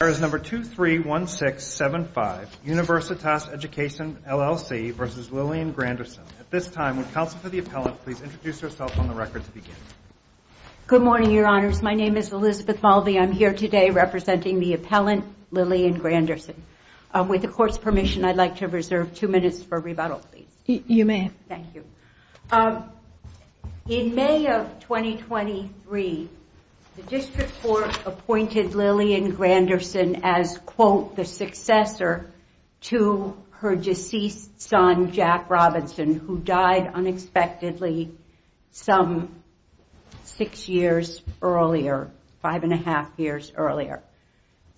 There is number 231675, Universitas Education, LLC versus Lillian Granderson. At this time, would counsel for the appellant, please introduce herself on the record to begin. Good morning, your honors. My name is Elizabeth Mulvey. I'm here today representing the appellant, Lillian Granderson. With the court's permission, I'd like to reserve two minutes for rebuttal. You may. Thank you. In May of 2023, the district court appointed Lillian Granderson as, quote, the successor to her deceased son, Jack Robinson, who died unexpectedly some six years earlier, five and a half years earlier.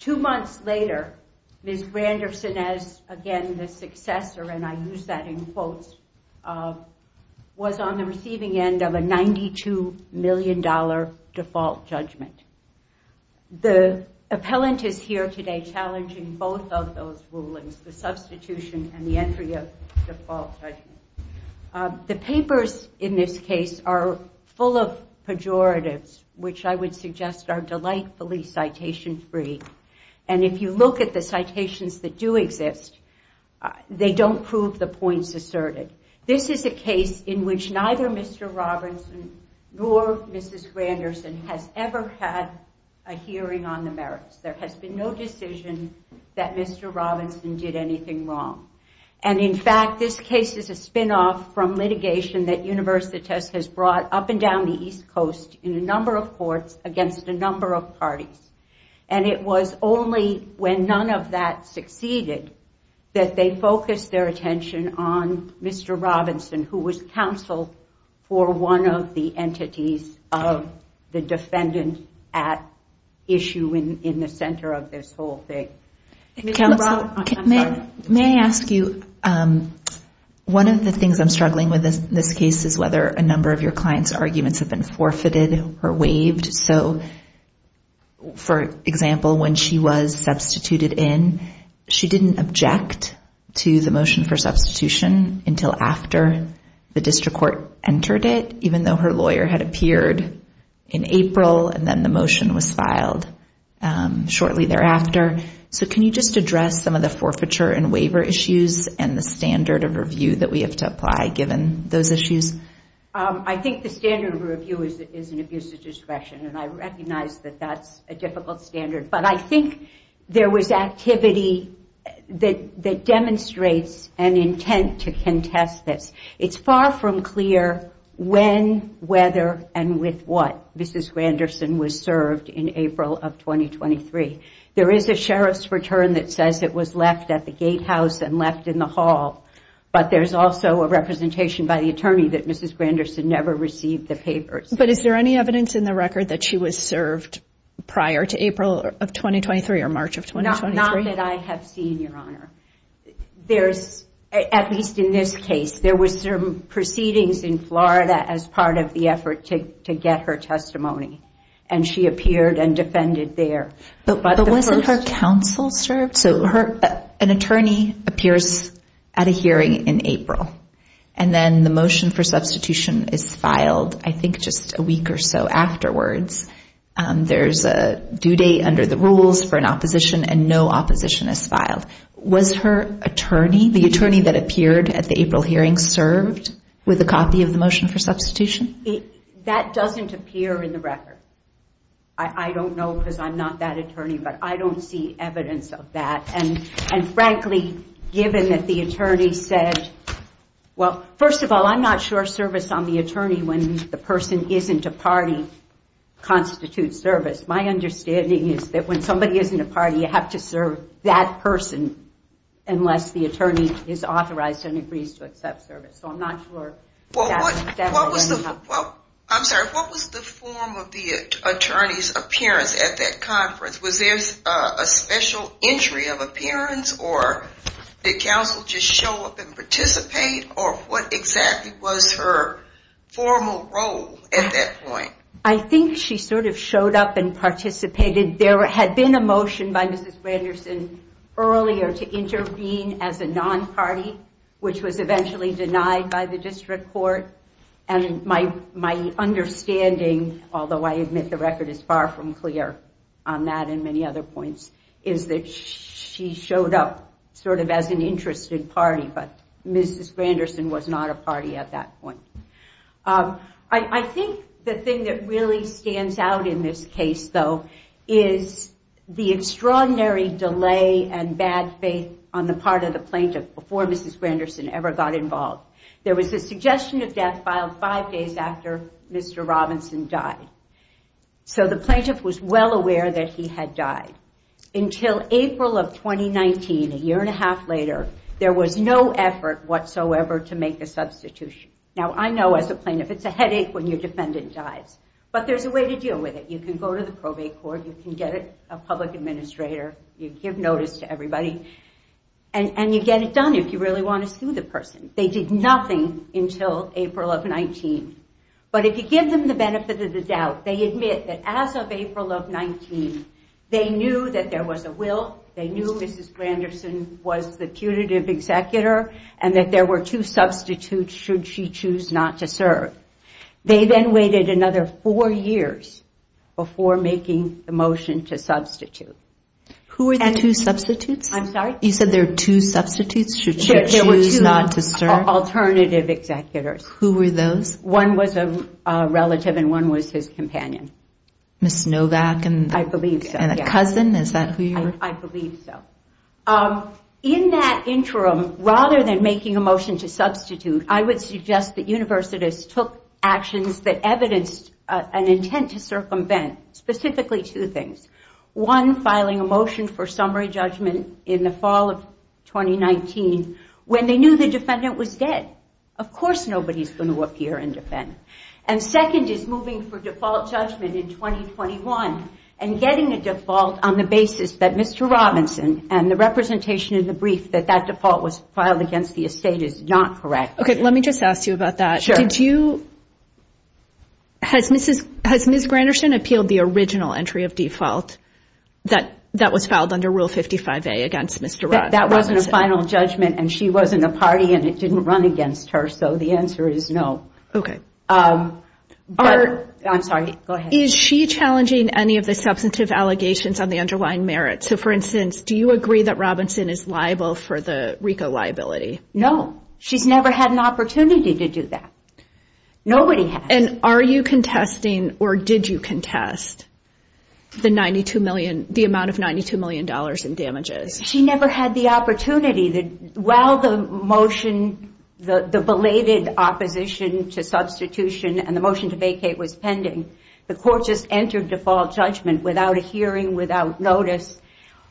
Two months later, Ms. Granderson, who was a successor, and I use that in quotes, was on the receiving end of a $92 million default judgment. The appellant is here today challenging both of those rulings, the substitution and the entry of default judgment. The papers in this case are full of pejoratives, which I would suggest are delightfully citation-free. And if you look at the citations that do exist, they don't prove the points asserted. This is a case in which neither Mr. Robinson nor Mrs. Granderson has ever had a hearing on the merits. There has been no decision that Mr. Robinson did anything wrong. And in fact, this case is a spinoff from litigation that Universitas has brought up and down the East Coast in a number of courts against a number of parties. And it was only when none of that succeeded that they focused their attention on Mr. Robinson, who was counsel for one of the entities of the defendant at issue in the center of this whole thing. May I ask you, one of the things I'm struggling with in this case is whether a number of your clients' arguments have been forfeited or waived. So, for example, when she was substituted in, she didn't object to the motion for substitution until after the district court entered it, even though her lawyer had appeared in April and then the motion was filed shortly thereafter. So can you just address some of the forfeiture and waiver issues and the standard of review that we have to apply given those issues? I think the standard of review is an abuse of discretion, and I recognize that that's a difficult standard, but I think there was activity that demonstrates an intent to contest this. It's far from clear when, whether, and with what Mrs. Granderson was served in April of 2023. There is a sheriff's return that says it was left at the gatehouse and left in the hall, but there's also a representation by the attorney that Mrs. Granderson never received the papers. But is there any evidence in the record that she was served prior to April of 2023 or March of 2023? Not that I have seen, Your Honor. There's, at least in this case, there was some proceedings in Florida as part of the effort to get her testimony, and she appeared and defended there. But wasn't her counsel served? So an attorney appears at a hearing in April, and then the motion for substitution is filed, I think, just a week or so afterwards. There's a due date under the rules for an opposition, and no opposition is filed. Was her attorney, the attorney that appeared at the April hearing, served with a copy of the motion for substitution? That doesn't appear in the record. I don't know because I'm not that attorney, but I don't see evidence of that. And frankly, given that the attorney said, well, first of all, I'm not sure service on the attorney when the person isn't a party constitutes service. My understanding is that when somebody isn't a party, you have to serve that person unless the attorney is authorized and agrees to accept service. So I'm not sure. I'm sorry, what was the form of the attorney's appearance at that conference? Was there a special entry of appearance, or did counsel just show up and participate? Or what exactly was her formal role at that point? I think she sort of showed up and participated. There had been a motion by Mrs. Branderson earlier to intervene as a non-party, which was eventually denied by the district court. And my understanding, although I admit the record is far from clear on that and many other points, is that she showed up sort of as an interested party, but Mrs. Branderson was not a party at that point. I think the thing that really stands out in this case, though, is the extraordinary delay and bad faith on the part of the plaintiff before Mrs. Branderson ever got involved. There was a suggestion of death filed five days after Mr. Robinson died. So the plaintiff was well aware that he had died. Until April of 2019, a year and a half later, there was no effort whatsoever to make a substitution. Now, I know as a plaintiff, it's a headache when your defendant dies, but there's a way to deal with it. You can go to the probate court, you can get a public administrator, you give notice to everybody, and you get it done if you really want to sue the person. They did nothing until April of 19. But if you give them the benefit of the doubt, they admit that as of They knew that there was a will, they knew Mrs. Branderson was the punitive executor, and that there were two substitutes should she choose not to serve. They then waited another four years before making the motion to substitute. Who were the two substitutes? I'm sorry? You said there are two substitutes should she choose not to serve? There were two alternative executors. Who were those? One was a relative and one was his companion. Ms. Cousin, is that who you were? I believe so. In that interim, rather than making a motion to substitute, I would suggest that Universitas took actions that evidenced an intent to circumvent, specifically two things. One, filing a motion for summary judgment in the fall of 2019, when they knew the defendant was dead. Of course, nobody's going to appear and defend. And second is moving for default judgment in 2021 and getting a default on the basis that Mr. Robinson and the representation in the brief that that default was filed against the estate is not correct. Okay. Let me just ask you about that. Did you, has Mrs. Branderson appealed the original entry of default that was filed under Rule 55A against Mr. Robinson? That wasn't a final judgment and she wasn't a party and it didn't run against her. So the answer is no. Okay. I'm sorry. Go ahead. Is she challenging any of the substantive allegations on the underlying merit? So for instance, do you agree that Robinson is liable for the RICO liability? No, she's never had an opportunity to do that. Nobody has. And are you contesting or did you contest the 92 million, the amount of $92 million in damages? She never had the opportunity. While the motion, the belated opposition to substitution and the court just entered default judgment without a hearing, without notice,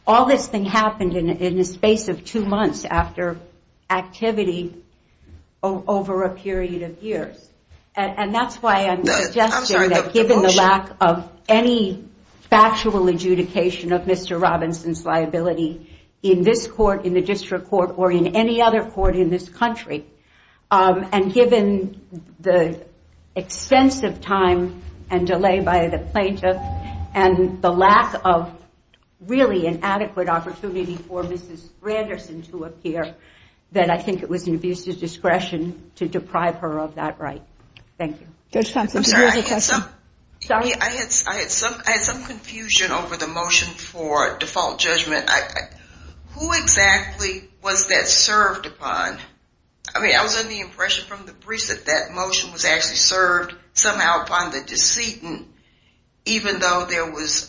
all this thing happened in a space of two months after activity over a period of years. And that's why I'm suggesting that given the lack of any factual adjudication of Mr. Robinson's liability in this court, in the district court, or in any other court in this country, and given the extensive time and the plaintiff, and the lack of really an adequate opportunity for Mrs. Branderson to appear, then I think it was an abuse of discretion to deprive her of that right. Thank you. Judge Thompson, did you have a question? I had some confusion over the motion for default judgment. Who exactly was that served upon? I mean, I was under the impression from the briefs that that motion was actually served somehow upon the decedent, even though there was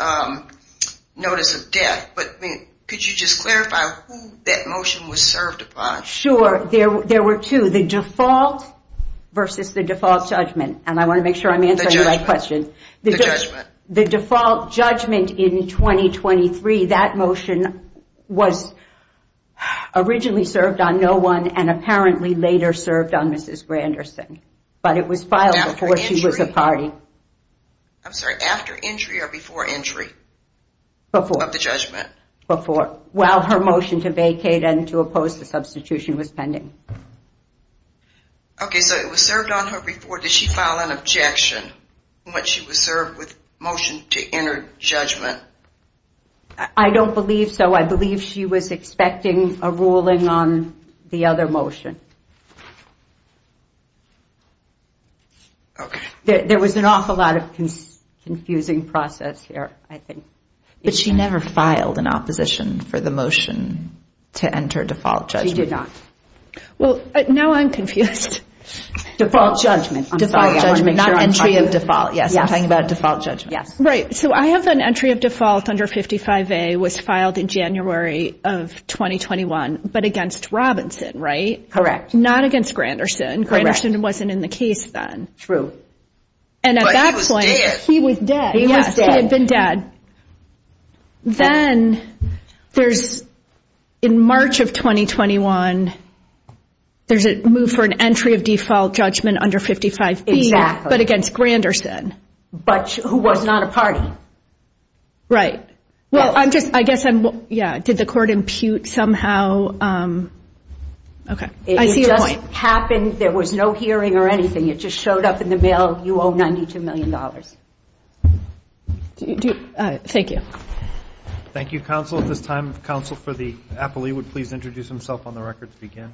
notice of death. But could you just clarify who that motion was served upon? Sure. There were two, the default versus the default judgment. And I want to make sure I'm answering the right question. The default judgment in 2023, that motion was originally served on no one and apparently later served on Mrs. Branderson, but it was filed before she was a party. I'm sorry, after injury or before injury? Before. Of the judgment? Before, while her motion to vacate and to oppose the substitution was pending. Okay, so it was served on her before. Did she file an objection when she was served with motion to enter judgment? I don't believe so. I believe she was expecting a ruling on the other motion. Okay, there was an awful lot of confusing process there. I think. But she never filed an opposition for the motion to enter default judgment. She did not. Well, now I'm confused. Default judgment. Default judgment, not entry of default. Yes, I'm talking about default judgment. Yes, right. So I have an entry of default under 55A was filed in January of 2021, but against Robinson, right? Correct. Not against Granderson. Granderson wasn't in the case then. True. And at that point, he was dead. He was dead. He had been dead. Then there's, in March of 2021, there's a move for an entry of default judgment under 55B, but against Granderson. But who was not a party. Right. Well, I'm just, I guess I'm, yeah, did the court impute somehow? Okay, I see your point. It happened. There was no hearing or anything. It just showed up in the mail. You owe $92 million. Thank you. Thank you, counsel. At this time, counsel for the appellee would please introduce himself on the record to begin.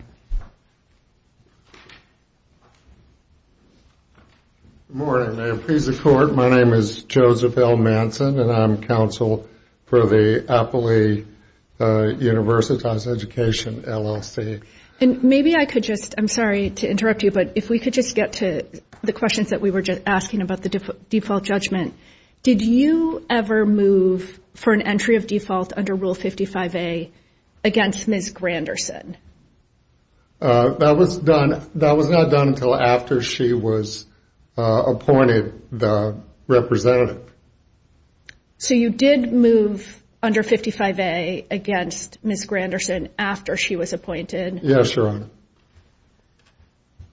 Good morning. I appraise the court. My name is Joseph L. Manson, and I'm counsel for the appellee Universitas Education LLC. And maybe I could just, I'm sorry to interrupt you, but if we could just get to the questions that we were just asking about the default judgment. Did you ever move for an entry of default under Rule 55A against Ms. Granderson? That was done, that was not done until after she was appointed the representative. So you did move under 55A against Ms. Granderson after she was appointed? Yes, Your Honor.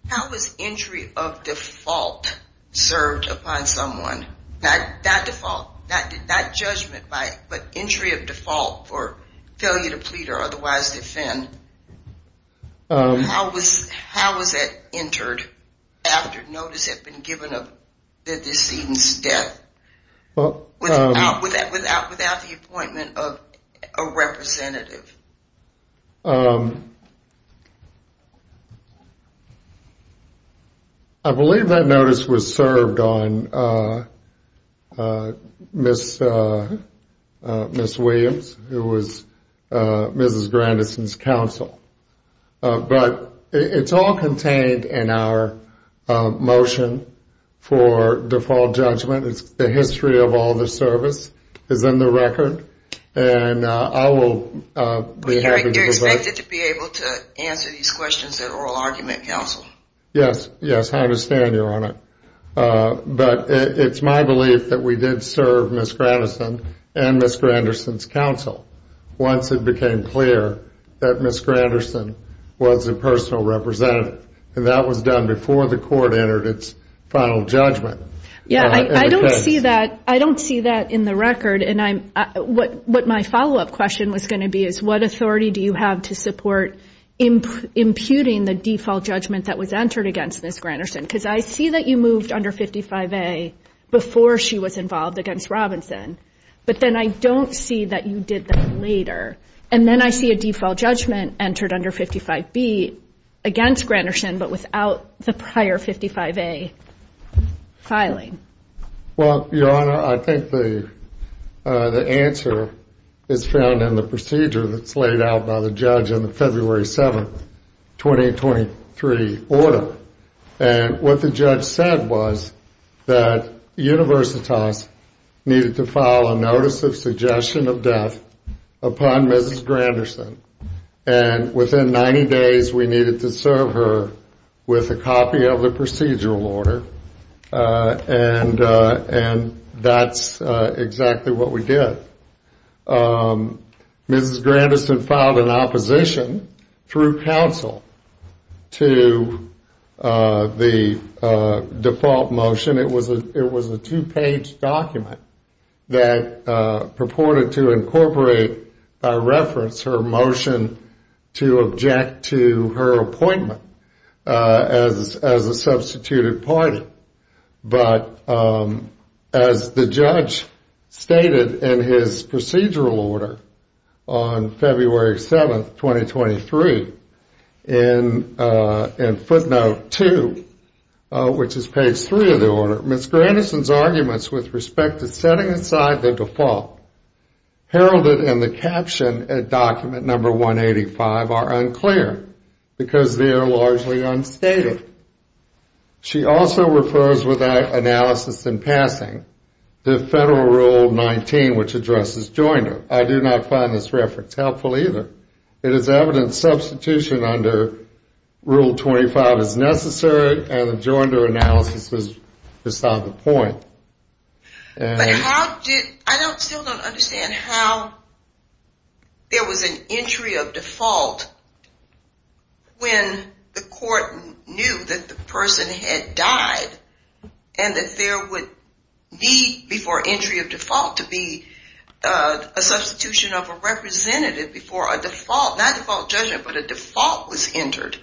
How was entry of default served upon someone? That default, that judgment by entry of default for failure to plead or otherwise defend. How was that entered after notice had been given of the decedent's death without the appointment of a representative? I believe that notice was served on Ms. Williams, who was Mrs. Granderson's counsel. But it's all contained in our motion for default judgment. It's the history of all the service is in the record and I will be happy to provide- You're expected to be able to answer these questions at oral argument counsel. Yes. Yes. I understand, Your Honor. But it's my belief that we did serve Ms. Granderson and Ms. Granderson's counsel. Once it became clear that Ms. Granderson was a personal representative and that was done before the court entered its final judgment. Yeah, I don't see that. I don't see that in the record. And what my follow-up question was going to be is what authority do you have to support imputing the default judgment that was entered against Ms. Granderson? Because I see that you moved under 55A before she was involved against Robinson, but then I don't see that you did that later. And then I see a default judgment entered under 55B against Granderson, but without the prior 55A filing. Well, Your Honor, I think the answer is found in the procedure that's laid out by the judge in the February 7th, 2023 order. And what the judge said was that Universitas needed to file a notice of suggestion of death upon Mrs. Granderson and within 90 days, we needed to serve her with a copy of the And that's exactly what we did. Mrs. Granderson filed an opposition through counsel to the default motion. It was a two-page document that purported to incorporate by reference her motion to object to her appointment as a substituted party. But as the judge stated in his procedural order on February 7th, 2023, in footnote 2, which is page 3 of the order, Ms. Granderson's arguments with respect to setting aside the default heralded in the caption at document number 185 are unclear because they are largely unstated. She also refers, without analysis in passing, to Federal Rule 19, which addresses joinder. I do not find this reference helpful either. It is evident substitution under Rule 25 is necessary and the joinder analysis was just on the point. But how did... I still don't understand how there was an entry of default when the court knew that the person had died and that there would be, before entry of default, to be a substitution of a representative before a default, not default judgment, but a default was entered.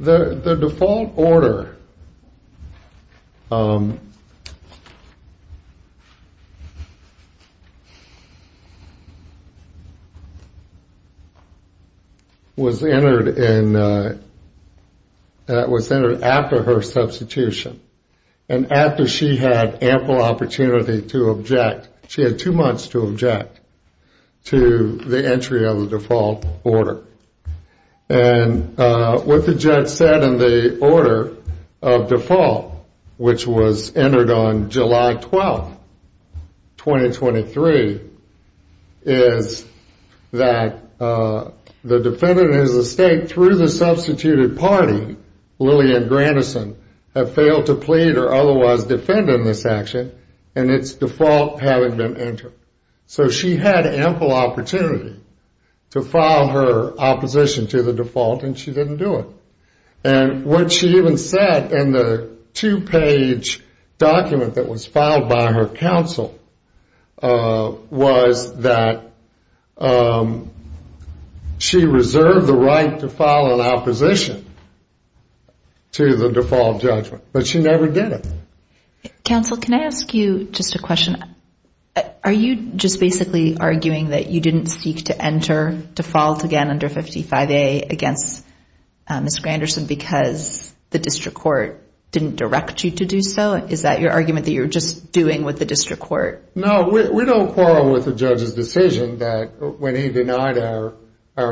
The default order was entered after her substitution and after she had ample opportunity to object, she had two months to object to the entry of the default order. And what the judge said in the order of default, which was entered on July 12th, 2023, is that the defendant is at stake through the substituted party, Lillian Granderson, have failed to plead or otherwise defend in this action and its default having been entered. So she had ample opportunity to file her opposition to the default and she didn't do it. And what she even said in the two-page document that was filed by her counsel was that she reserved the right to file an opposition to the default judgment, but she never did it. Counsel, can I ask you just a question? Are you just basically arguing that you didn't seek to enter default again under 55A against Ms. Granderson because the district court didn't direct you to do so? Is that your argument that you're just doing with the district court? No, we don't quarrel with the judge's decision that when he denied our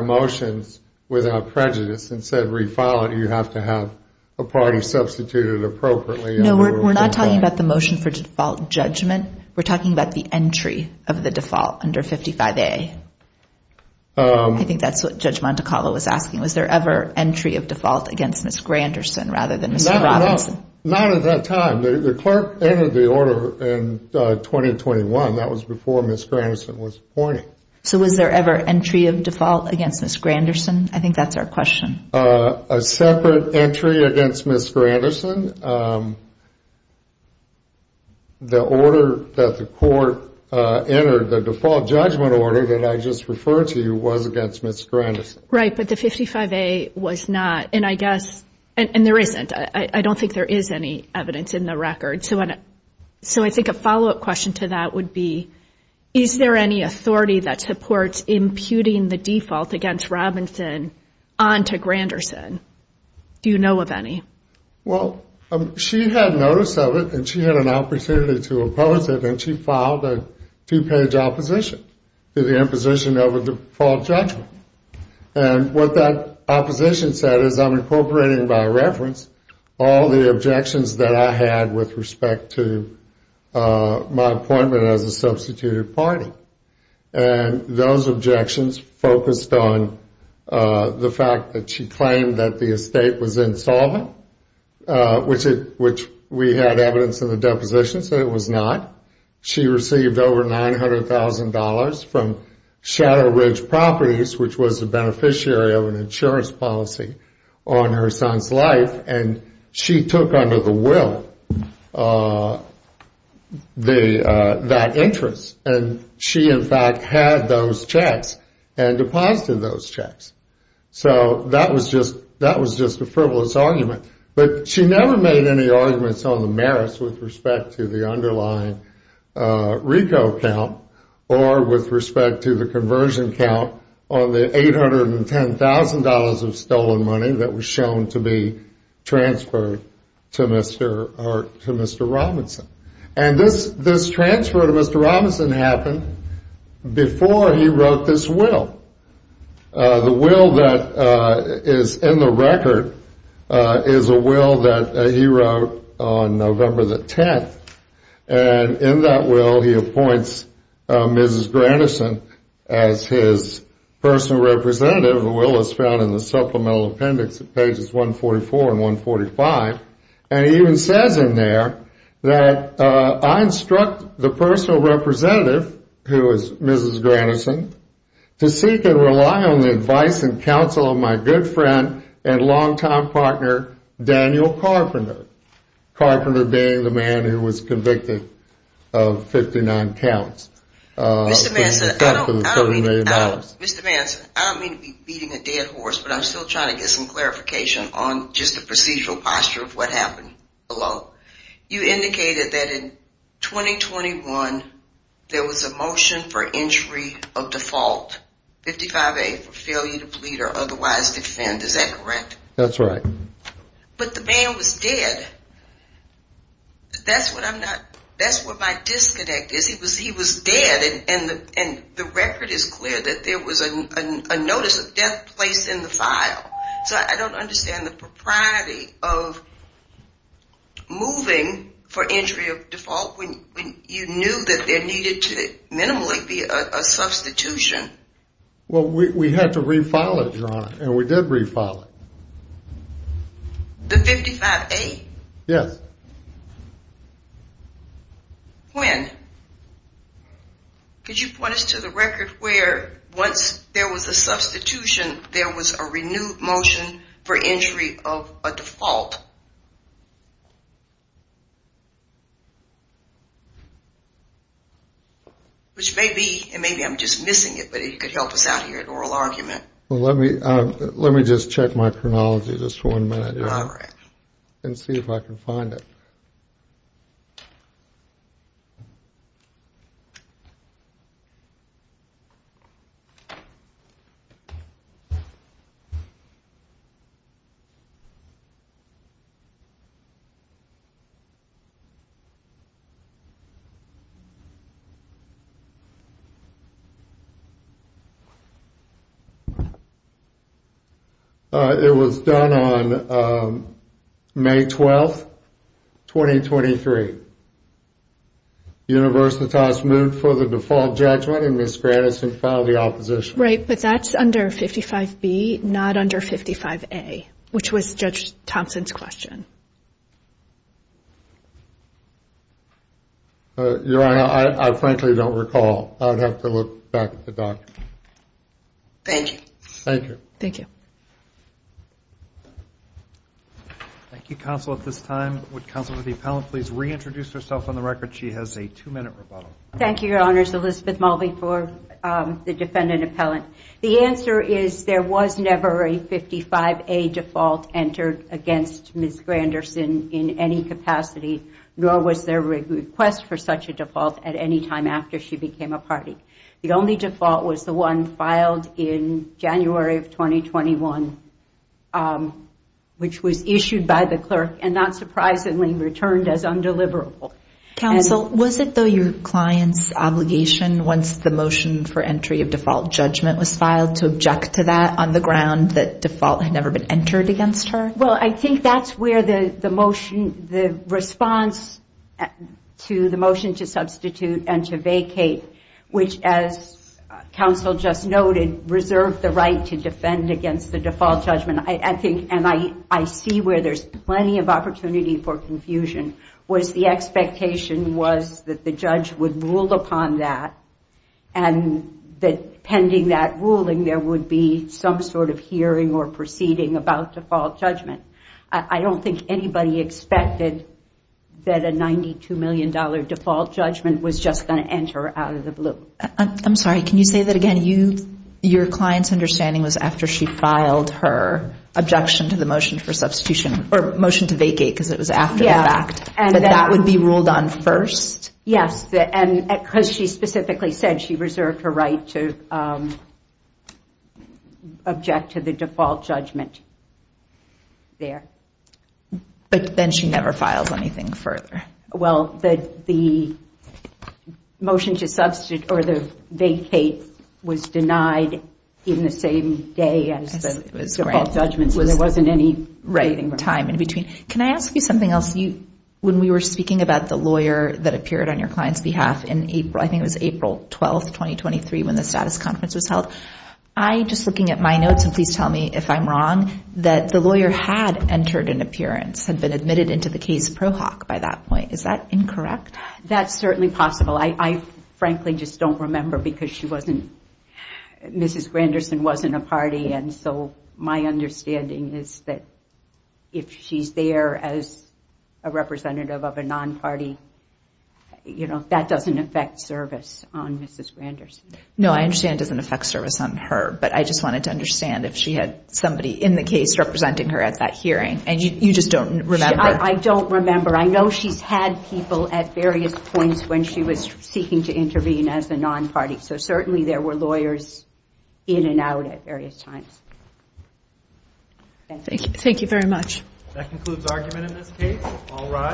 motions without prejudice and said refile it, you have to have a party substituted appropriately. No, we're not talking about the motion for default judgment. We're talking about the entry of the default under 55A. I think that's what Judge Montecarlo was asking. Was there ever entry of default against Ms. Granderson rather than Mr. Robinson? Not at that time. The clerk entered the order in 2021. That was before Ms. Granderson was appointed. So was there ever entry of default against Ms. Granderson? I think that's our question. A separate entry against Ms. Granderson. The order that the court entered, the default judgment order that I just referred to you, was against Ms. Granderson. Right, but the 55A was not, and I guess, and there isn't, I don't think there is any evidence in the record. So I think a follow-up question to that would be, is there any authority that supports imputing the default against Robinson onto Granderson? Do you know of any? Well, she had notice of it and she had an opportunity to oppose it and she filed a two-page opposition to the imposition of a default judgment. And what that opposition said is, I'm incorporating by reference all the objections that I had with respect to my appointment as a substituted party. And those objections focused on the fact that she claimed that the estate was insolvent, which we had evidence in the depositions that it was not. She received over $900,000 from Shadow Ridge Properties, which was a beneficiary of an insurance policy on her son's life, and she took under the will that interest. And she, in fact, had those checks and deposited those checks. So that was just a frivolous argument. But she never made any arguments on the merits with respect to the underlying RICO count or with respect to the conversion count on the $810,000 of stolen money that was shown to be transferred to Mr. Robinson. And this transfer to Mr. Robinson happened before he wrote this will. The will that is in the record is a will that he wrote on November the 10th. And in that will, he appoints Mrs. Grannison as his personal representative. The will is found in the supplemental appendix at pages 144 and 145. And he even says in there that I instruct the personal representative, who is Mrs. Grannison, to seek and rely on the advice and counsel of my good friend and longtime partner, Daniel Carpenter. Carpenter being the man who was convicted of 59 counts. Mr. Manson, I don't mean to be beating a dead horse, but I'm still trying to get some clarification on just the procedural posture of what happened below. You indicated that in 2021, there was a motion for entry of default, 55A, for failure to plead or otherwise defend. Is that correct? That's right. But the man was dead. That's what I'm not, that's what my disconnect is. He was dead and the record is clear that there was a notice of death placed in the file. So I don't understand the propriety of moving for entry of default when you knew that there needed to minimally be a substitution. Well, we had to refile it, Your Honor, and we did refile it. The 55A? Yes. When? Could you point us to the record where once there was a substitution, there was a renewed motion for entry of a default? Which may be, and maybe I'm just missing it, but it could help us out here at Oral Argument. Well, let me just check my chronology just for one minute and see if I can find it. It was done on May 12th, 2023. Universitas moved for the default judgment and Ms. Grattis had filed the opposition. Under 55B, not under 55A, which was Judge Thompson's question. Your Honor, I frankly don't recall. I'd have to look back at the document. Thank you. Thank you. Thank you. Thank you, Counsel. At this time, would Counsel to the Appellant please reintroduce herself on the record? She has a two-minute rebuttal. Thank you, Your Honors. Elizabeth Mulvey for the Defendant Appellant. The answer is there was never a 55A default entered against Ms. Granderson in any capacity, nor was there a request for such a default at any time after she became a party. The only default was the one filed in January of 2021, which was issued by the clerk and not surprisingly returned as undeliverable. Counsel, was it though your client's obligation once the motion for entry of default judgment was filed to object to that on the ground that default had never been entered against her? Well, I think that's where the motion, the response to the motion to substitute and to vacate, which as Counsel just noted, reserved the right to defend against the default judgment. I think, and I see where there's plenty of opportunity for confusion, was the expectation was that the judge would rule upon that and that pending that ruling, there would be some sort of hearing or proceeding about default judgment. I don't think anybody expected that a $92 million default judgment was just going to enter out of the blue. I'm sorry. Can you say that again? Your client's understanding was after she filed her objection to the motion for substitution or motion to vacate because it was after the fact, but that would be ruled on first? Yes, and because she specifically said she reserved her right to object to the default judgment there. But then she never filed anything further. Well, the motion to substitute or the vacate was denied in the same day as the default judgment, so there wasn't any time in between. Can I ask you something else? When we were speaking about the lawyer that appeared on your client's behalf in April, I think it was April 12th, 2023, when the status conference was held, just looking at my notes and please tell me if I'm wrong, that the lawyer had entered an appearance, had been admitted into the case pro hoc by that point. Is that incorrect? That's certainly possible. I frankly just don't remember because she wasn't, Mrs. Granderson wasn't a party. So my understanding is that if she's there as a representative of a non-party, that doesn't affect service on Mrs. Granderson. No, I understand it doesn't affect service on her, but I just wanted to understand if she had somebody in the case representing her at that hearing and you just don't remember? I don't remember. I know she's had people at various points when she was seeking to intervene as a non-party. So certainly there were lawyers in and out at various times. Thank you. Thank you very much. That concludes argument in this case. All rise.